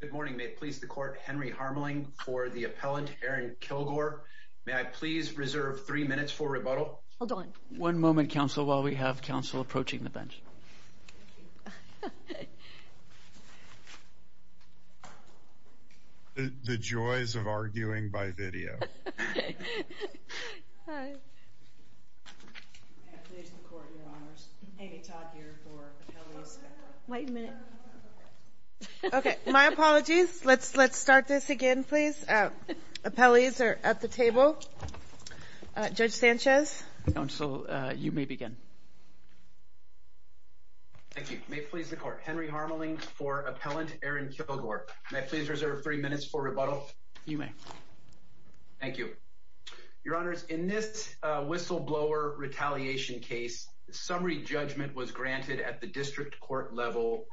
Good morning. May it please the court, Henry Harmeling for the appellant, Aaron Killgore. May I please reserve three minutes for rebuttal? Hold on. One moment, counsel, while we have counsel approaching the bench. The joys of arguing by video. Hi. May it please the court, your honors, Amy Todd here for appellees. Wait a minute. Okay, my apologies. Let's start this again, please. Appellees are at the table. Judge Sanchez. Counsel, you may begin. Thank you. May it please the court, Henry Harmeling for appellant, Aaron Killgore. May I please reserve three minutes for rebuttal? Counsel, you may. Thank you, your honors. In this whistleblower retaliation case, summary judgment was granted at the district court level.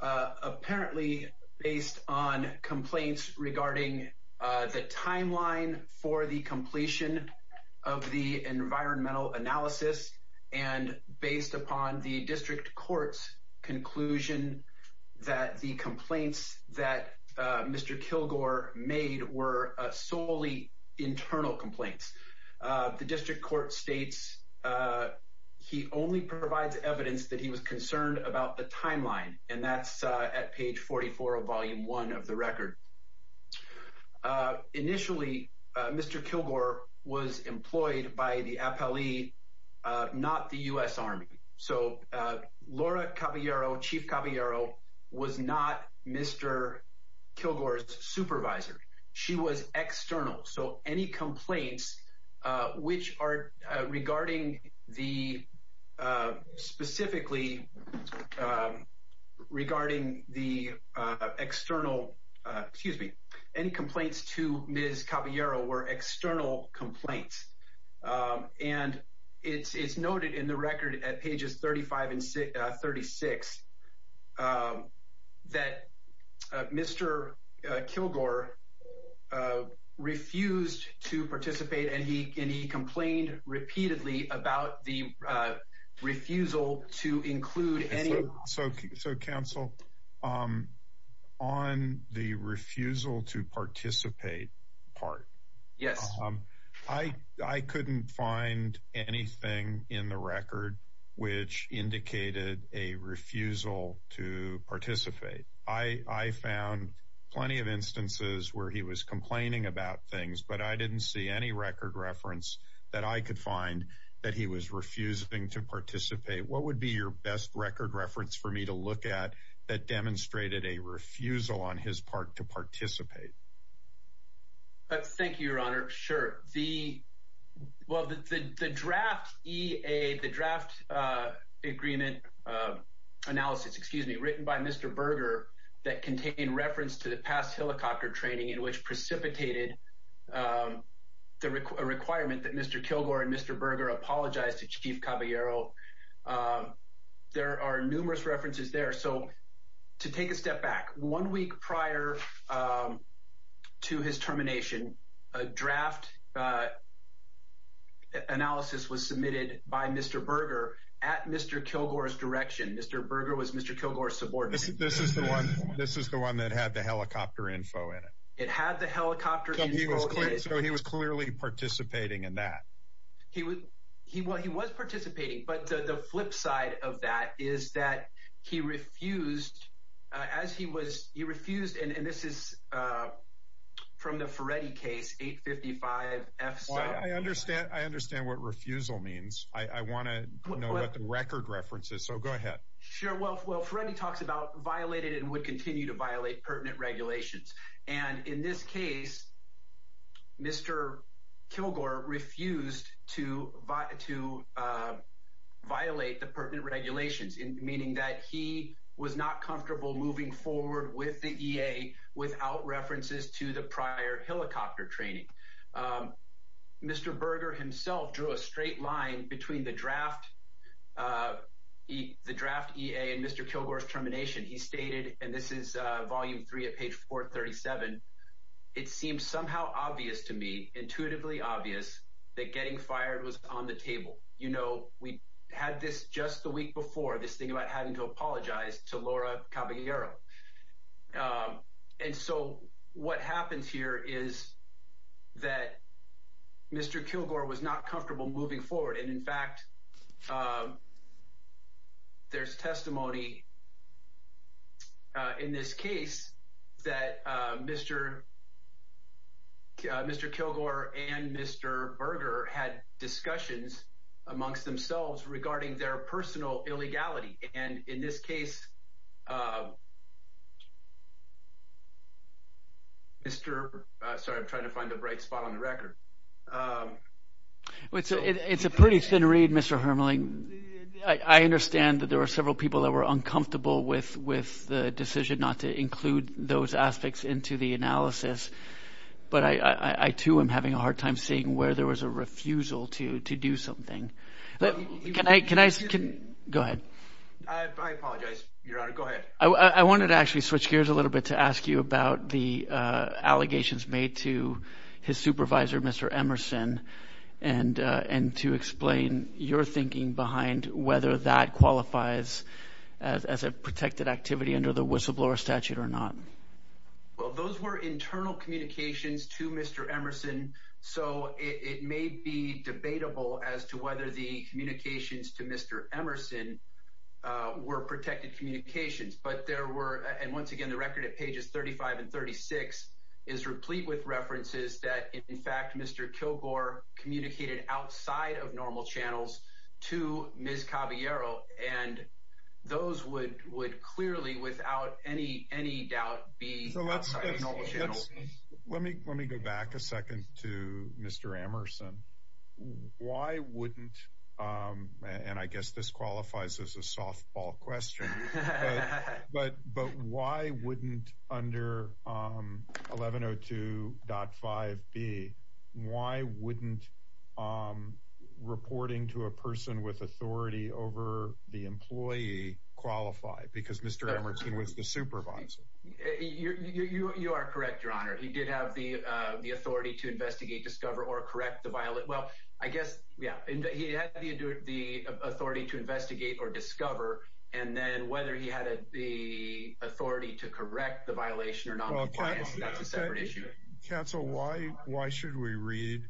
Apparently based on complaints regarding the timeline for the completion of the environmental analysis. And based upon the district court's conclusion that the complaints that Mr. Killgore made were solely internal complaints. The district court states he only provides evidence that he was concerned about the timeline. And that's at page 44 of volume one of the record. Initially, Mr. Killgore was employed by the appellee, not the U.S. Army. So Laura Cavallaro, Chief Cavallaro, was not Mr. Killgore's supervisor. She was external. So any complaints which are regarding the, specifically regarding the external, excuse me, any complaints to Ms. Cavallaro were external complaints. And it's noted in the record at pages 35 and 36 that Mr. Killgore refused to participate. And he complained repeatedly about the refusal to include any. So counsel, on the refusal to participate part. Yes. I couldn't find anything in the record which indicated a refusal to participate. I found plenty of instances where he was complaining about things, but I didn't see any record reference that I could find that he was refusing to participate. What would be your best record reference for me to look at that demonstrated a refusal on his part to participate? Thank you, Your Honor. Sure. Well, the draft EA, the draft agreement analysis, excuse me, written by Mr. Berger that contained reference to the past helicopter training in which precipitated a requirement that Mr. Killgore and Mr. Berger apologized to Chief Cavallaro. There are numerous references there. So to take a step back, one week prior to his termination, a draft analysis was submitted by Mr. Berger at Mr. Killgore's direction. Mr. Berger was Mr. Killgore's subordinate. This is the one that had the helicopter info in it. It had the helicopter info in it. So he was clearly participating in that. He was participating. But the flip side of that is that he refused, as he was, he refused, and this is from the Ferretti case, 855-F-7. I understand. I understand what refusal means. I want to know what the record reference is. So go ahead. Sure. Well, Ferretti talks about violated and would continue to violate pertinent regulations. And in this case, Mr. Killgore refused to violate the pertinent regulations, meaning that he was not comfortable moving forward with the EA without references to the prior helicopter training. Mr. Berger himself drew a straight line between the draft EA and Mr. Killgore's termination. He stated, and this is Volume 3 at page 437, it seems somehow obvious to me, intuitively obvious, that getting fired was on the table. You know, we had this just the week before, this thing about having to apologize to Laura Caballero. And so what happens here is that Mr. Killgore was not comfortable moving forward. And, in fact, there's testimony in this case that Mr. Killgore and Mr. Berger had discussions amongst themselves regarding their personal illegality. And in this case, Mr. – sorry, I'm trying to find the right spot on the record. It's a pretty thin read, Mr. Hermeling. I understand that there were several people that were uncomfortable with the decision not to include those aspects into the analysis. But I, too, am having a hard time seeing where there was a refusal to do something. Can I – go ahead. I apologize, Your Honor. Go ahead. I wanted to actually switch gears a little bit to ask you about the allegations made to his supervisor, Mr. Emerson, and to explain your thinking behind whether that qualifies as a protected activity under the whistleblower statute or not. Well, those were internal communications to Mr. Emerson, so it may be debatable as to whether the communications to Mr. Emerson were protected communications. And once again, the record at pages 35 and 36 is replete with references that, in fact, Mr. Killgore communicated outside of normal channels to Ms. Caballero, and those would clearly, without any doubt, be outside of normal channels. Let me go back a second to Mr. Emerson. Why wouldn't – and I guess this qualifies as a softball question – but why wouldn't under 1102.5b, why wouldn't reporting to a person with authority over the employee qualify? Because Mr. Emerson was the supervisor. You are correct, Your Honor. He did have the authority to investigate, discover, or correct the violent – well, I guess, yeah, he had the authority to investigate or discover, and then whether he had the authority to correct the violation or not, that's a separate issue. Counsel, why should we read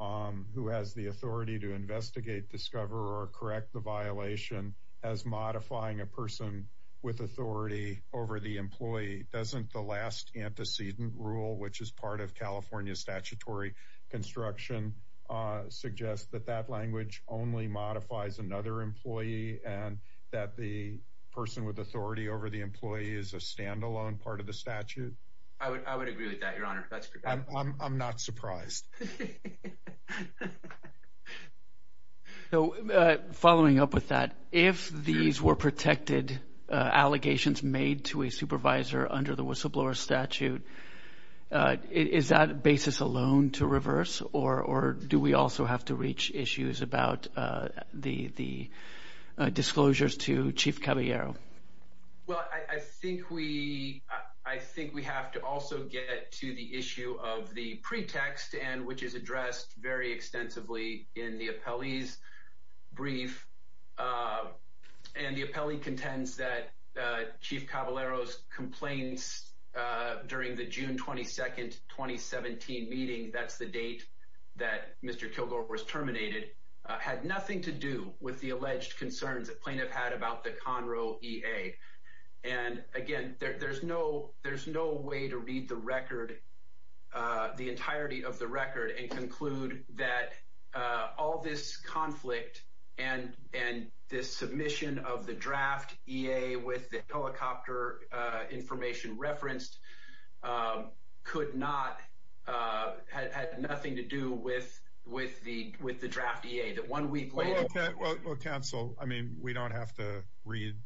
who has the authority to investigate, discover, or correct the violation as modifying a person with authority over the employee? Doesn't the last antecedent rule, which is part of California statutory construction, suggest that that language only modifies another employee and that the person with authority over the employee is a stand-alone part of the statute? I would agree with that, Your Honor. I'm not surprised. Following up with that, if these were protected allegations made to a supervisor under the whistleblower statute, is that basis alone to reverse, or do we also have to reach issues about the disclosures to Chief Caballero? Well, I think we have to also get to the issue of the pretext, which is addressed very extensively in the appellee's brief. And the appellee contends that Chief Caballero's complaints during the June 22, 2017 meeting, that's the date that Mr. Kilgore was terminated, had nothing to do with the alleged concerns that plaintiff had about the Conroe EA. And, again, there's no way to read the record, the entirety of the record, and conclude that all this conflict and this submission of the draft EA with the helicopter information referenced had nothing to do with the draft EA. Well, counsel, I mean, we don't have to read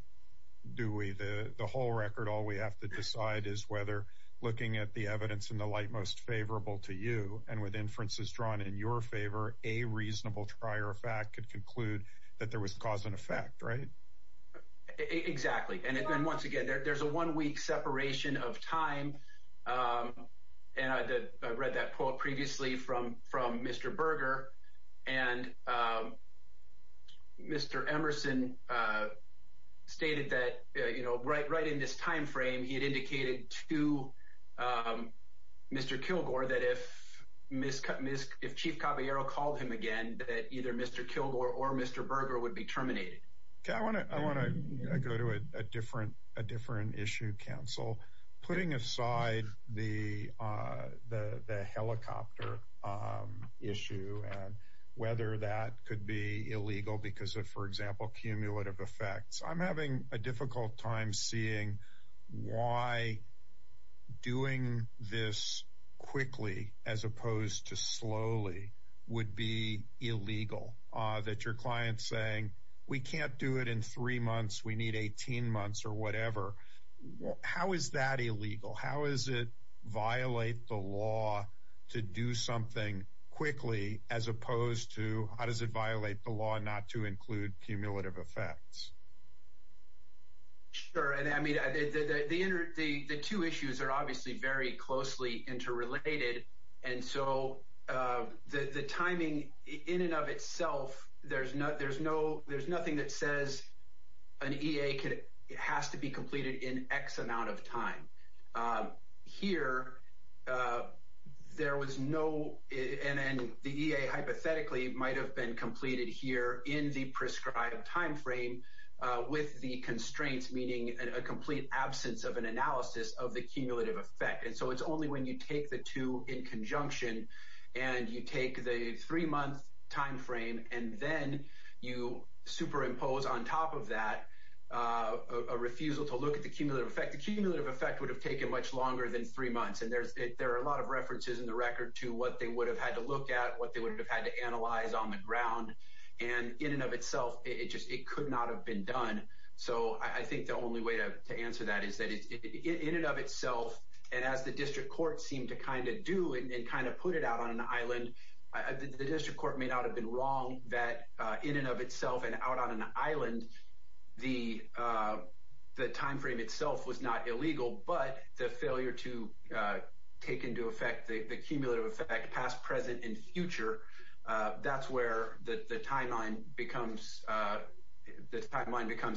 the whole record. All we have to decide is whether looking at the evidence in the light most favorable to you and with inferences drawn in your favor, a reasonable prior fact could conclude that there was cause and effect, right? Exactly. And, once again, there's a one-week separation of time. And I read that quote previously from Mr. Berger, and Mr. Emerson stated that, you know, right in this time frame, he had indicated to Mr. Kilgore that if Chief Caballero called him again, that either Mr. Kilgore or Mr. Berger would be terminated. Okay, I want to go to a different issue, counsel. Putting aside the helicopter issue and whether that could be illegal because of, for example, cumulative effects, I'm having a difficult time seeing why doing this quickly as opposed to slowly would be illegal, that your client's saying, we can't do it in three months, we need 18 months or whatever. How is that illegal? How does it violate the law to do something quickly as opposed to, how does it violate the law not to include cumulative effects? Sure, I mean, the two issues are obviously very closely interrelated, and so the timing in and of itself, there's nothing that says an EA has to be completed in X amount of time. Here, there was no, and then the EA hypothetically might have been completed here in the prescribed time frame with the constraints, meaning a complete absence of an analysis of the cumulative effect. And so it's only when you take the two in conjunction and you take the three-month time frame and then you superimpose on top of that a refusal to look at the cumulative effect. The cumulative effect would have taken much longer than three months, and there are a lot of references in the record to what they would have had to look at, what they would have had to analyze on the ground, and in and of itself, it could not have been done. So I think the only way to answer that is that in and of itself, and as the district court seemed to kind of do and kind of put it out on an island, the district court may not have been wrong that in and of itself and out on an island, the time frame itself was not illegal, but the failure to take into effect the cumulative effect past, present, and future, that's where the timeline becomes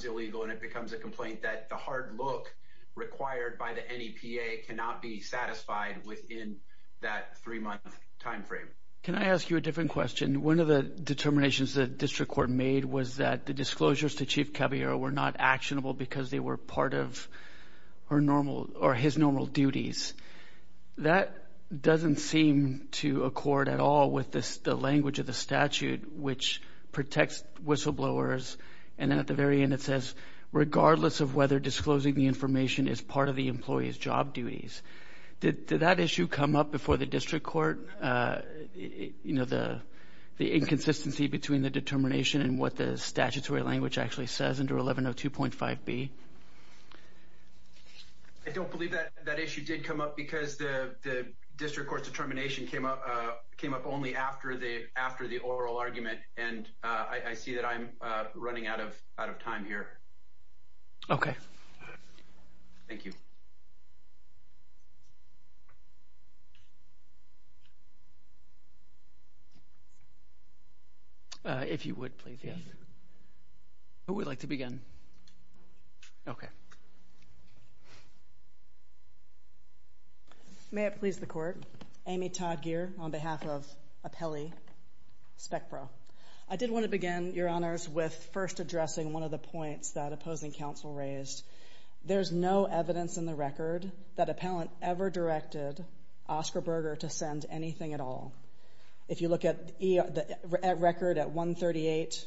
illegal, and it becomes a complaint that the hard look required by the NEPA cannot be satisfied within that three-month time frame. Can I ask you a different question? One of the determinations the district court made was that the disclosures to Chief Caballero were not actionable because they were part of his normal duties. That doesn't seem to accord at all with the language of the statute, which protects whistleblowers, and at the very end it says, regardless of whether disclosing the information is part of the employee's job duties. Did that issue come up before the district court, the inconsistency between the determination and what the statutory language actually says under 1102.5b? I don't believe that issue did come up because the district court's determination came up only after the oral argument, and I see that I'm running out of time here. Okay. Thank you. If you would, please, yes. Who would like to begin? Okay. May it please the Court, Amy Todd Geer on behalf of Apelli SpecPro. I did want to begin, Your Honors, with first addressing one of the points that opposing counsel raised. There's no evidence in the record that Appellant ever directed Oscar Berger to send anything at all. If you look at record at 138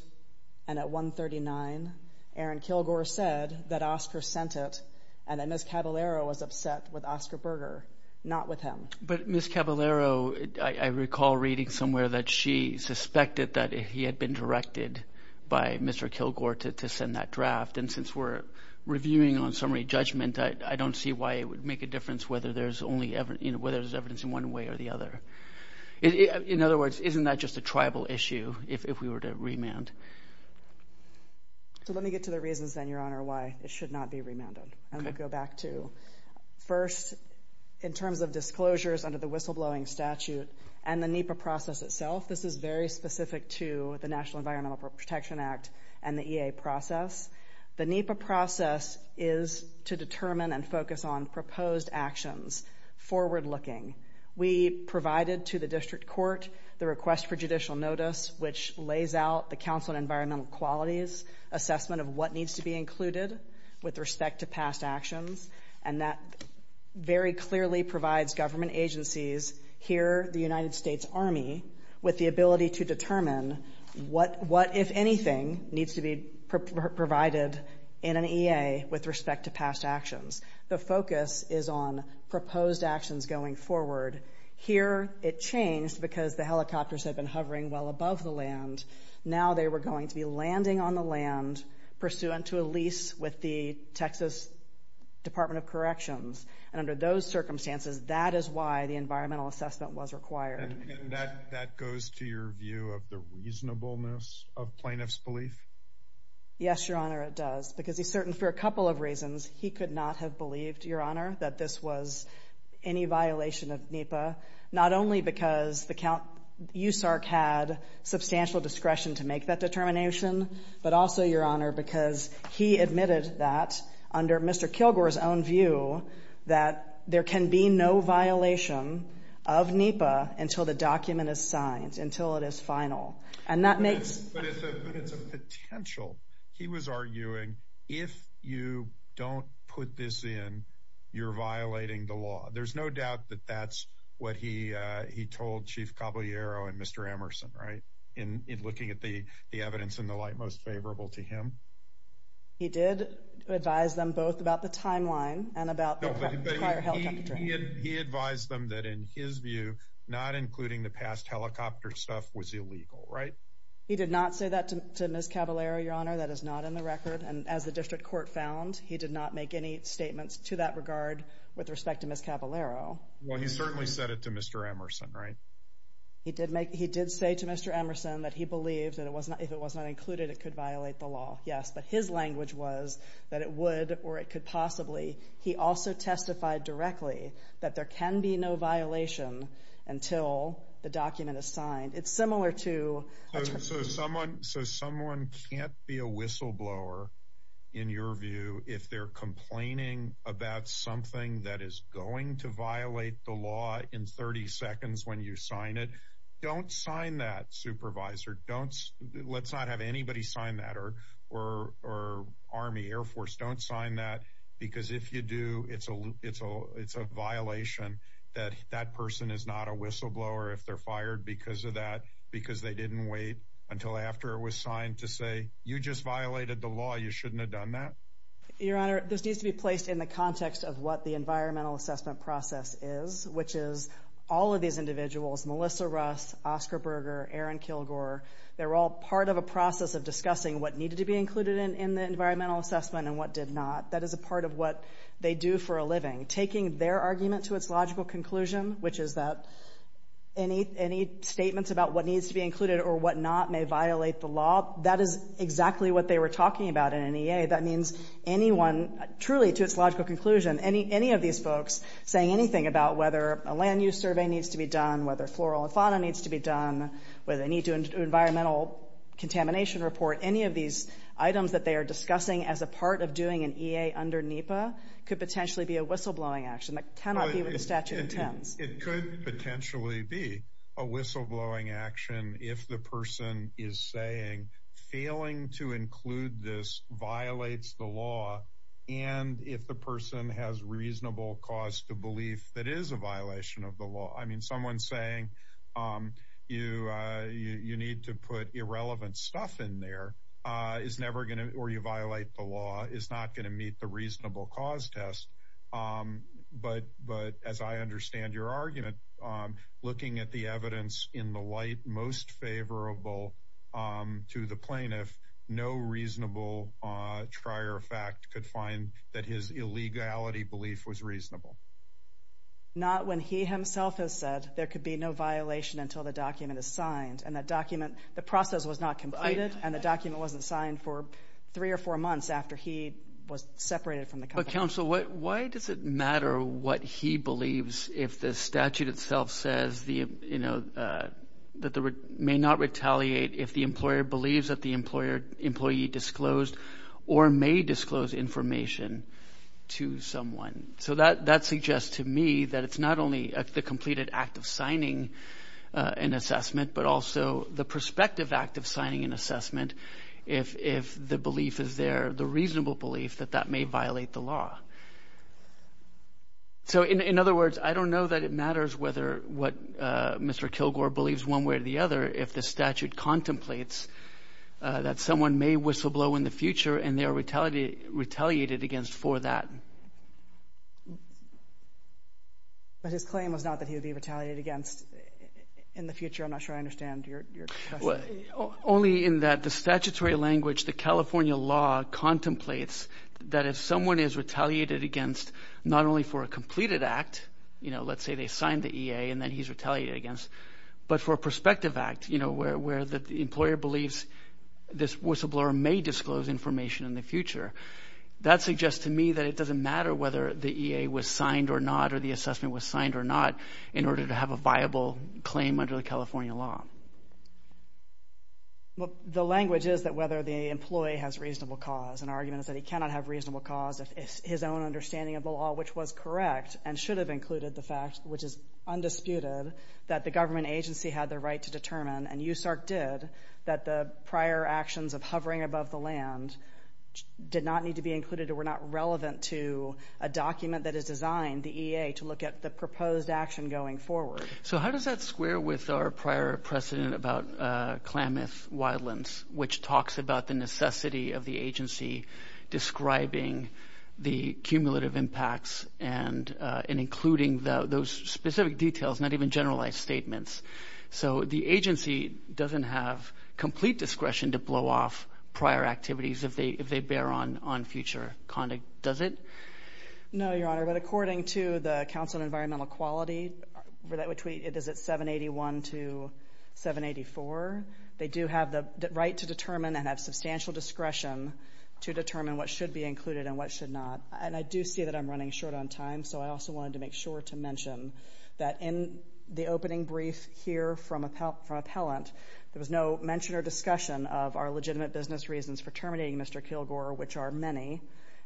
and at 139, Aaron Kilgore said that Oscar sent it and that Ms. Caballero was upset with Oscar Berger, not with him. But Ms. Caballero, I recall reading somewhere that she suspected that he had been directed by Mr. Kilgore to send that draft, and since we're reviewing on summary judgment, I don't see why it would make a difference whether there's evidence in one way or the other. In other words, isn't that just a tribal issue if we were to remand? So let me get to the reasons, then, Your Honor, why it should not be remanded. First, in terms of disclosures under the whistleblowing statute and the NEPA process itself, this is very specific to the National Environmental Protection Act and the EA process. The NEPA process is to determine and focus on proposed actions, forward-looking. We provided to the district court the request for judicial notice, which lays out the counsel and environmental qualities, assessment of what needs to be included with respect to past actions, and that very clearly provides government agencies, here the United States Army, with the ability to determine what, if anything, needs to be provided in an EA with respect to past actions. The focus is on proposed actions going forward. Here it changed because the helicopters had been hovering well above the land. Now they were going to be landing on the land, pursuant to a lease with the Texas Department of Corrections. And under those circumstances, that is why the environmental assessment was required. And that goes to your view of the reasonableness of plaintiff's belief? Yes, Your Honor, it does. Because he's certain for a couple of reasons he could not have believed, Your Honor, that this was any violation of NEPA, not only because the count USARC had substantial discretion to make that determination, but also, Your Honor, because he admitted that, under Mr. Kilgore's own view, that there can be no violation of NEPA until the document is signed, until it is final. But it's a potential. He was arguing, if you don't put this in, you're violating the law. There's no doubt that that's what he told Chief Caballero and Mr. Emerson, right, in looking at the evidence and the like most favorable to him. He did advise them both about the timeline and about the prior helicopter. He advised them that, in his view, not including the past helicopter stuff was illegal, right? He did not say that to Ms. Caballero, Your Honor. That is not in the record. And as the district court found, he did not make any statements to that regard with respect to Ms. Caballero. Well, he certainly said it to Mr. Emerson, right? He did say to Mr. Emerson that he believed that if it was not included, it could violate the law. Yes, but his language was that it would or it could possibly. He also testified directly that there can be no violation until the document is signed. It's similar to— So someone can't be a whistleblower, in your view, if they're complaining about something that is going to violate the law in 30 seconds when you sign it. Don't sign that, Supervisor. Let's not have anybody sign that or Army, Air Force. Don't sign that because if you do, it's a violation that that person is not a whistleblower if they're fired because of that, because they didn't wait until after it was signed to say, you just violated the law. You shouldn't have done that. Your Honor, this needs to be placed in the context of what the environmental assessment process is, which is all of these individuals, Melissa Russ, Oscar Berger, Aaron Kilgore, they're all part of a process of discussing what needed to be included in the environmental assessment and what did not. That is a part of what they do for a living. Taking their argument to its logical conclusion, which is that any statements about what needs to be included or what not may violate the law, that is exactly what they were talking about in an EA. That means anyone, truly to its logical conclusion, any of these folks saying anything about whether a land use survey needs to be done, whether floral and fauna needs to be done, whether they need to do an environmental contamination report, any of these items that they are discussing as a part of doing an EA under NEPA, could potentially be a whistleblowing action that cannot be with the statute of terms. It could potentially be a whistleblowing action if the person is saying, failing to include this violates the law, and if the person has reasonable cause to believe that it is a violation of the law. I mean, someone saying you need to put irrelevant stuff in there, or you violate the law, is not going to meet the reasonable cause test. But as I understand your argument, looking at the evidence in the light most favorable to the plaintiff, no reasonable trier of fact could find that his illegality belief was reasonable. Not when he himself has said there could be no violation until the document is signed. The process was not completed, and the document wasn't signed for three or four months after he was separated from the company. But counsel, why does it matter what he believes if the statute itself says that they may not retaliate if the employer believes that the employee disclosed or may disclose information to someone? So that suggests to me that it's not only the completed act of signing an assessment, but also the prospective act of signing an assessment if the belief is there, the reasonable belief that that may violate the law. So in other words, I don't know that it matters what Mr. Kilgore believes one way or the other if the statute contemplates that someone may whistleblow in the future and they are retaliated against for that. Okay. But his claim was not that he would be retaliated against in the future. I'm not sure I understand your question. Only in that the statutory language, the California law contemplates that if someone is retaliated against not only for a completed act, you know, let's say they signed the EA and then he's retaliated against, but for a prospective act, you know, where the employer believes this whistleblower may disclose information in the future. That suggests to me that it doesn't matter whether the EA was signed or not or the assessment was signed or not in order to have a viable claim under the California law. Well, the language is that whether the employee has reasonable cause. An argument is that he cannot have reasonable cause if his own understanding of the law, which was correct and should have included the fact, which is undisputed, that the government agency had the right to determine, and USARC did, that the prior actions of hovering above the land did not need to be included or were not relevant to a document that is designed, the EA, to look at the proposed action going forward. So how does that square with our prior precedent about Klamath Wildlands, which talks about the necessity of the agency describing the cumulative impacts and including those specific details, not even generalized statements. So the agency doesn't have complete discretion to blow off prior activities if they bear on future conduct, does it? No, Your Honor, but according to the Council on Environmental Quality, that is at 781 to 784, they do have the right to determine and have substantial discretion to determine what should be included and what should not. And I do see that I'm running short on time, so I also wanted to make sure to mention that in the opening brief here from appellant, there was no mention or discussion of our legitimate business reasons for terminating Mr. Kilgore, which are many,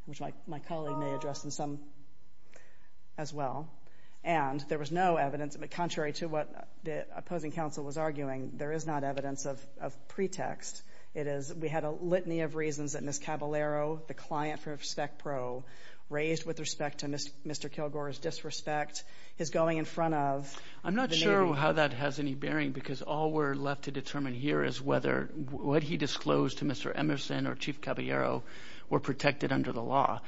which my colleague may address in some as well. And there was no evidence, contrary to what the opposing counsel was arguing, there is not evidence of pretext. We had a litany of reasons that Ms. Caballero, the client for RespectPro, raised with respect to Mr. Kilgore's disrespect, his going in front of the Navy. I'm not sure how that has any bearing because all we're left to determine here is whether what he disclosed to Mr. Emerson or Chief Caballero were protected under the law.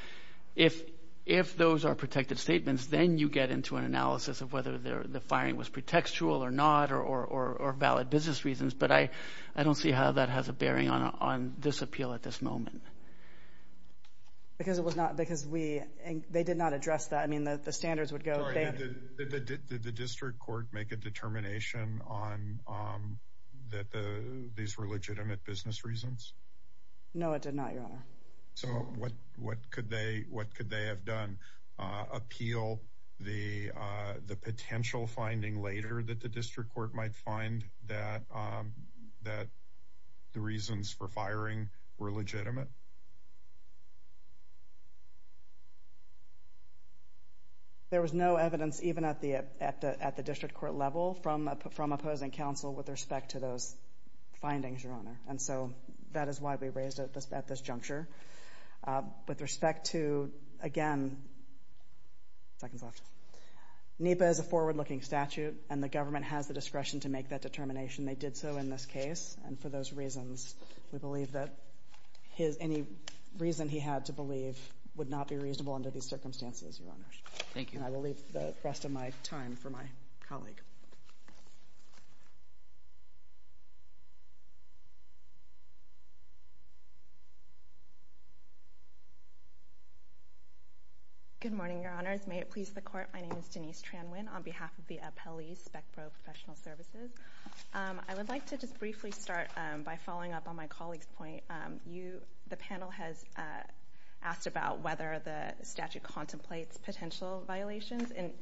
If those are protected statements, then you get into an analysis of whether the firing was pretextual or not or valid business reasons, but I don't see how that has a bearing on this appeal at this moment. Because it was not, because we, they did not address that. I mean, the standards would go. Did the district court make a determination on that these were legitimate business reasons? No, it did not, Your Honor. So what could they have done? Appeal the potential finding later that the district court might find that the reasons for firing were legitimate? There was no evidence even at the district court level from opposing counsel with respect to those findings, Your Honor, and so that is why we raised it at this juncture. With respect to, again, seconds left, NEPA is a forward-looking statute and the government has the discretion to make that determination. They did so in this case, and for those reasons, we believe that any reason he had to believe would not be reasonable under these circumstances, Your Honor. Thank you. And I will leave the rest of my time for my colleague. May it please the Court. Thank you, Your Honor. My name is Denise Tran Nguyen on behalf of the appellees, Spec Pro Professional Services. I would like to just briefly start by following up on my colleague's point. The panel has asked about whether the statute contemplates potential violations, and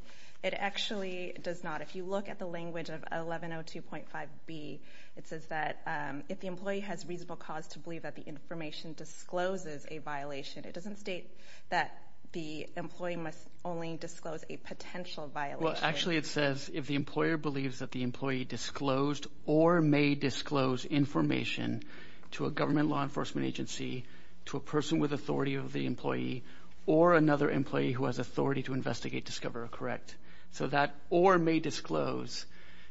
it actually does not. If you look at the language of 1102.5b, it says that if the employee has reasonable cause to believe that the information discloses a violation, it doesn't state that the employee must only disclose a potential violation. Well, actually, it says if the employer believes that the employee disclosed or may disclose information to a government law enforcement agency, to a person with authority of the employee, or another employee who has authority to investigate, discover, or correct. So that or may disclose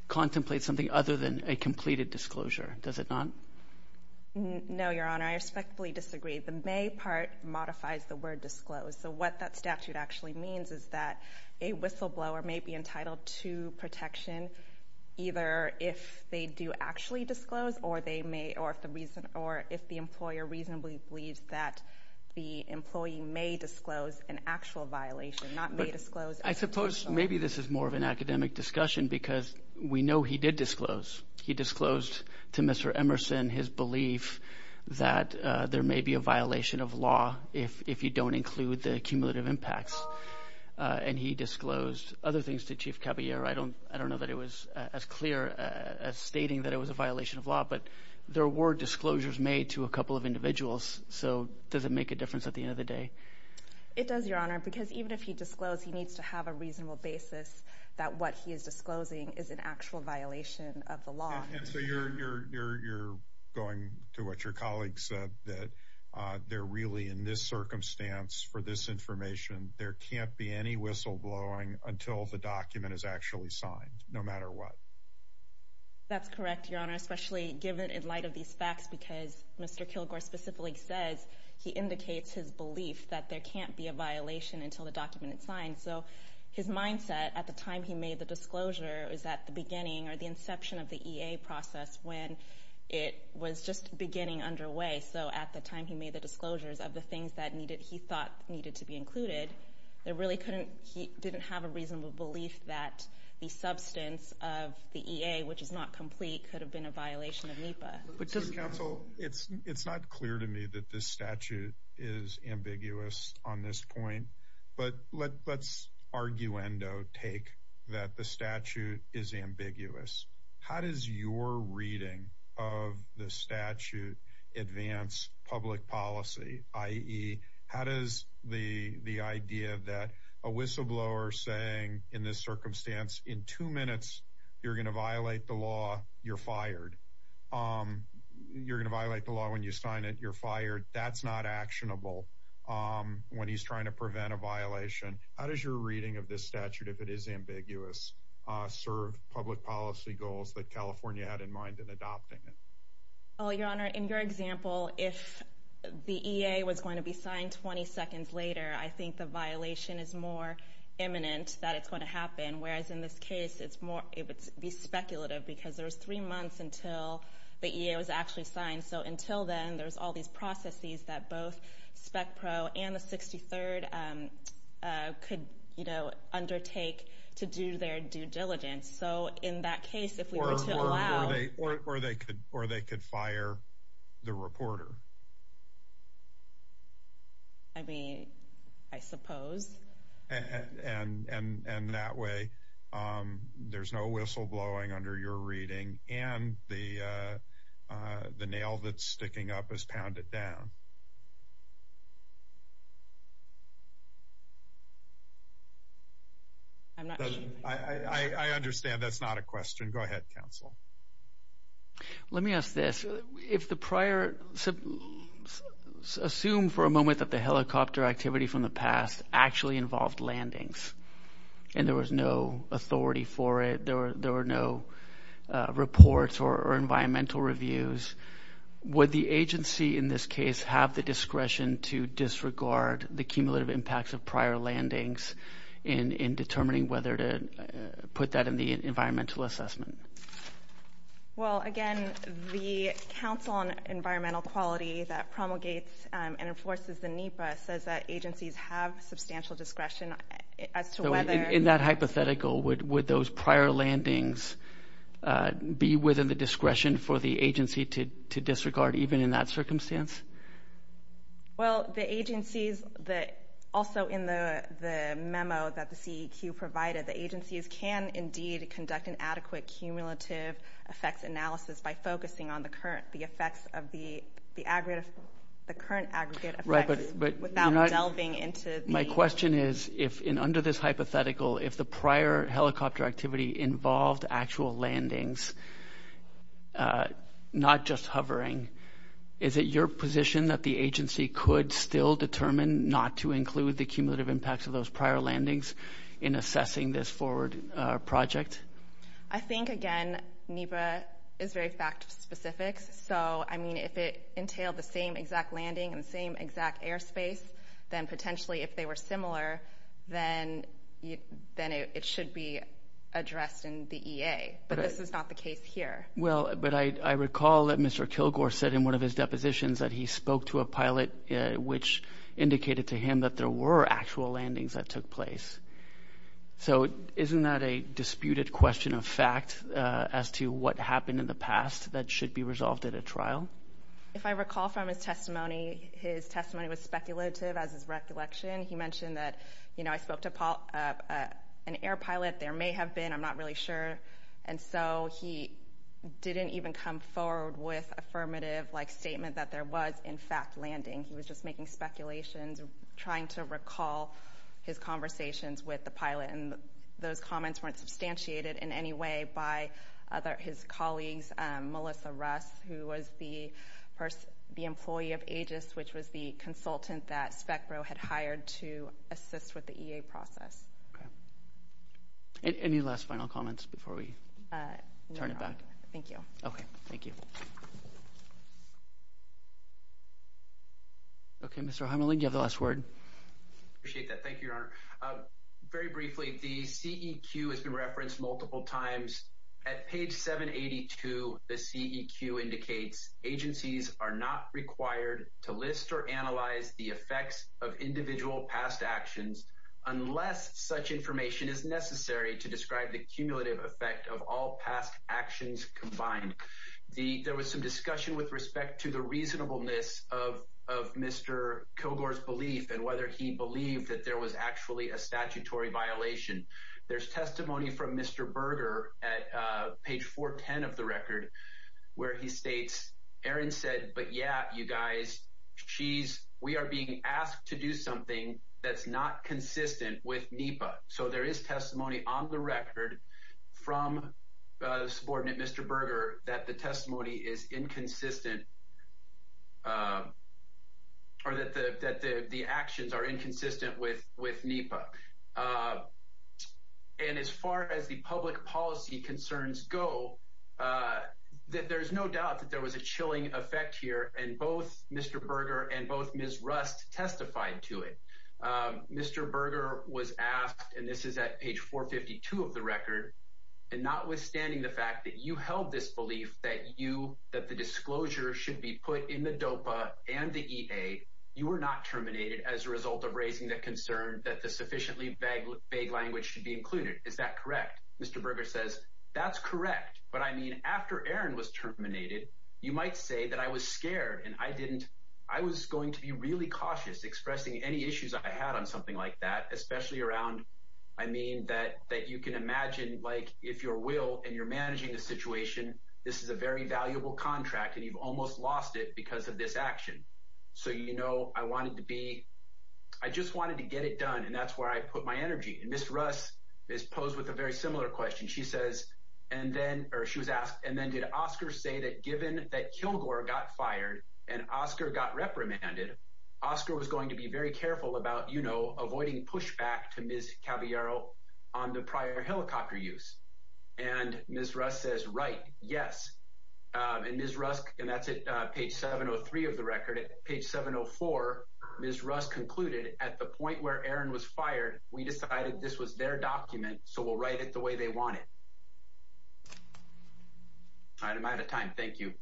contemplates something other than a completed disclosure. Does it not? No, Your Honor. I respectfully disagree. The may part modifies the word disclose. So what that statute actually means is that a whistleblower may be entitled to protection either if they do actually disclose or if the employer reasonably believes that the employee may disclose an actual violation, not may disclose. I suppose maybe this is more of an academic discussion because we know he did disclose. He disclosed to Mr. Emerson his belief that there may be a violation of law if you don't include the cumulative impacts. And he disclosed other things to Chief Caballero. I don't know that it was as clear as stating that it was a violation of law, but there were disclosures made to a couple of individuals. So does it make a difference at the end of the day? It does, Your Honor, because even if he disclosed, he needs to have a reasonable basis that what he is disclosing is an actual violation of the law. And so you're going to what your colleague said, that they're really in this circumstance for this information. There can't be any whistleblowing until the document is actually signed, no matter what. That's correct, Your Honor, especially given in light of these facts because Mr. Kilgore specifically says he indicates his belief that there can't be a violation until the document is signed. So his mindset at the time he made the disclosure is at the beginning or the inception of the EA process when it was just beginning underway. So at the time he made the disclosures of the things that he thought needed to be included, he didn't have a reasonable belief that the substance of the EA, which is not complete, could have been a violation of NEPA. Counsel, it's not clear to me that this statute is ambiguous on this point, but let's arguendo take that the statute is ambiguous. How does your reading of the statute advance public policy, i.e., how does the idea that a whistleblower saying in this circumstance in two minutes, you're going to violate the law, you're fired. You're going to violate the law when you sign it, you're fired. That's not actionable when he's trying to prevent a violation. How does your reading of this statute, if it is ambiguous, serve public policy goals that California had in mind in adopting it? Well, Your Honor, in your example, if the EA was going to be signed 20 seconds later, I think the violation is more imminent that it's going to happen, whereas in this case it would be speculative because there was three months until the EA was actually signed. So until then, there's all these processes that both SPEC-PRO and the 63rd could undertake to do their due diligence. So in that case, if we were to allow— Or they could fire the reporter. I mean, I suppose. And that way there's no whistleblowing under your reading and the nail that's sticking up is pounded down. I understand that's not a question. Go ahead, counsel. Let me ask this. Assume for a moment that the helicopter activity from the past actually involved landings and there was no authority for it, there were no reports or environmental reviews. Would the agency in this case have the discretion to disregard the cumulative impacts of prior landings in determining whether to put that in the environmental assessment? Well, again, the Council on Environmental Quality that promulgates and enforces the NEPA says that agencies have substantial discretion as to whether— So in that hypothetical, would those prior landings be within the discretion for the agency to disregard even in that circumstance? Well, the agencies that also in the memo that the CEQ provided, the agencies can indeed conduct an adequate cumulative effects analysis by focusing on the current aggregate effects without delving into the— My question is, under this hypothetical, if the prior helicopter activity involved actual landings, not just hovering, is it your position that the agency could still determine not to include the cumulative impacts of those prior landings in assessing this forward project? I think, again, NEPA is very fact-specific. So, I mean, if it entailed the same exact landing in the same exact airspace, then potentially if they were similar, then it should be addressed in the EA. But this is not the case here. Well, but I recall that Mr. Kilgore said in one of his depositions that he spoke to a pilot which indicated to him that there were actual landings that took place. So isn't that a disputed question of fact as to what happened in the past that should be resolved at a trial? If I recall from his testimony, his testimony was speculative as is recollection. He mentioned that, you know, I spoke to an air pilot. There may have been. I'm not really sure. And so he didn't even come forward with affirmative-like statement that there was, in fact, landing. He was just making speculations, trying to recall his conversations with the pilot. And those comments weren't substantiated in any way by his colleagues. Melissa Russ, who was the employee of Aegis, which was the consultant that SPECBRO had hired to assist with the EA process. Okay. Any last final comments before we turn it back? No. Thank you. Okay. Thank you. Okay, Mr. Hamelin, you have the last word. Appreciate that. Thank you, Your Honor. Very briefly, the CEQ has been referenced multiple times. At page 782, the CEQ indicates agencies are not required to list or analyze the effects of individual past actions unless such information is necessary to describe the cumulative effect of all past actions combined. There was some discussion with respect to the reasonableness of Mr. Kogor's belief and whether he believed that there was actually a statutory violation. There's testimony from Mr. Berger at page 410 of the record where he states, Aaron said, but yeah, you guys, we are being asked to do something that's not consistent with NEPA. So there is testimony on the record from the subordinate, Mr. Berger, that the testimony is inconsistent or that the actions are inconsistent with NEPA. And as far as the public policy concerns go, there's no doubt that there was a chilling effect here, and both Mr. Berger and both Ms. Rust testified to it. Mr. Berger was asked, and this is at page 452 of the record, and notwithstanding the fact that you held this belief that the disclosure should be put in the DOPA and the EA, you were not terminated as a result of raising the concern that the sufficiently vague language should be included. Is that correct? Mr. Berger says, that's correct, but I mean, after Aaron was terminated, you might say that I was scared and I didn't, I was going to be really cautious expressing any issues I had on something like that, especially around, I mean, that you can imagine, like, if your will and you're managing the situation, this is a very valuable contract and you've almost lost it because of this action. So, you know, I wanted to be, I just wanted to get it done, and that's where I put my energy. And Ms. Rust is posed with a very similar question. She says, and then, or she was asked, and then did Oscar say that given that Kilgore got fired and Oscar got reprimanded, Oscar was going to be very careful about, you know, avoiding pushback to Ms. Caviero on the prior helicopter use? And Ms. Rust says, right, yes. And Ms. Rust, and that's at page 703 of the record. At page 704, Ms. Rust concluded, at the point where Aaron was fired, we decided this was their document, so we'll write it the way they want it. All right, I'm out of time. Thank you.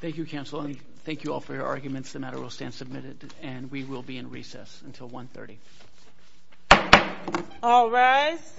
Thank you, Counselor, and thank you all for your arguments. The matter will stand submitted and we will be in recess until 1.30. All rise.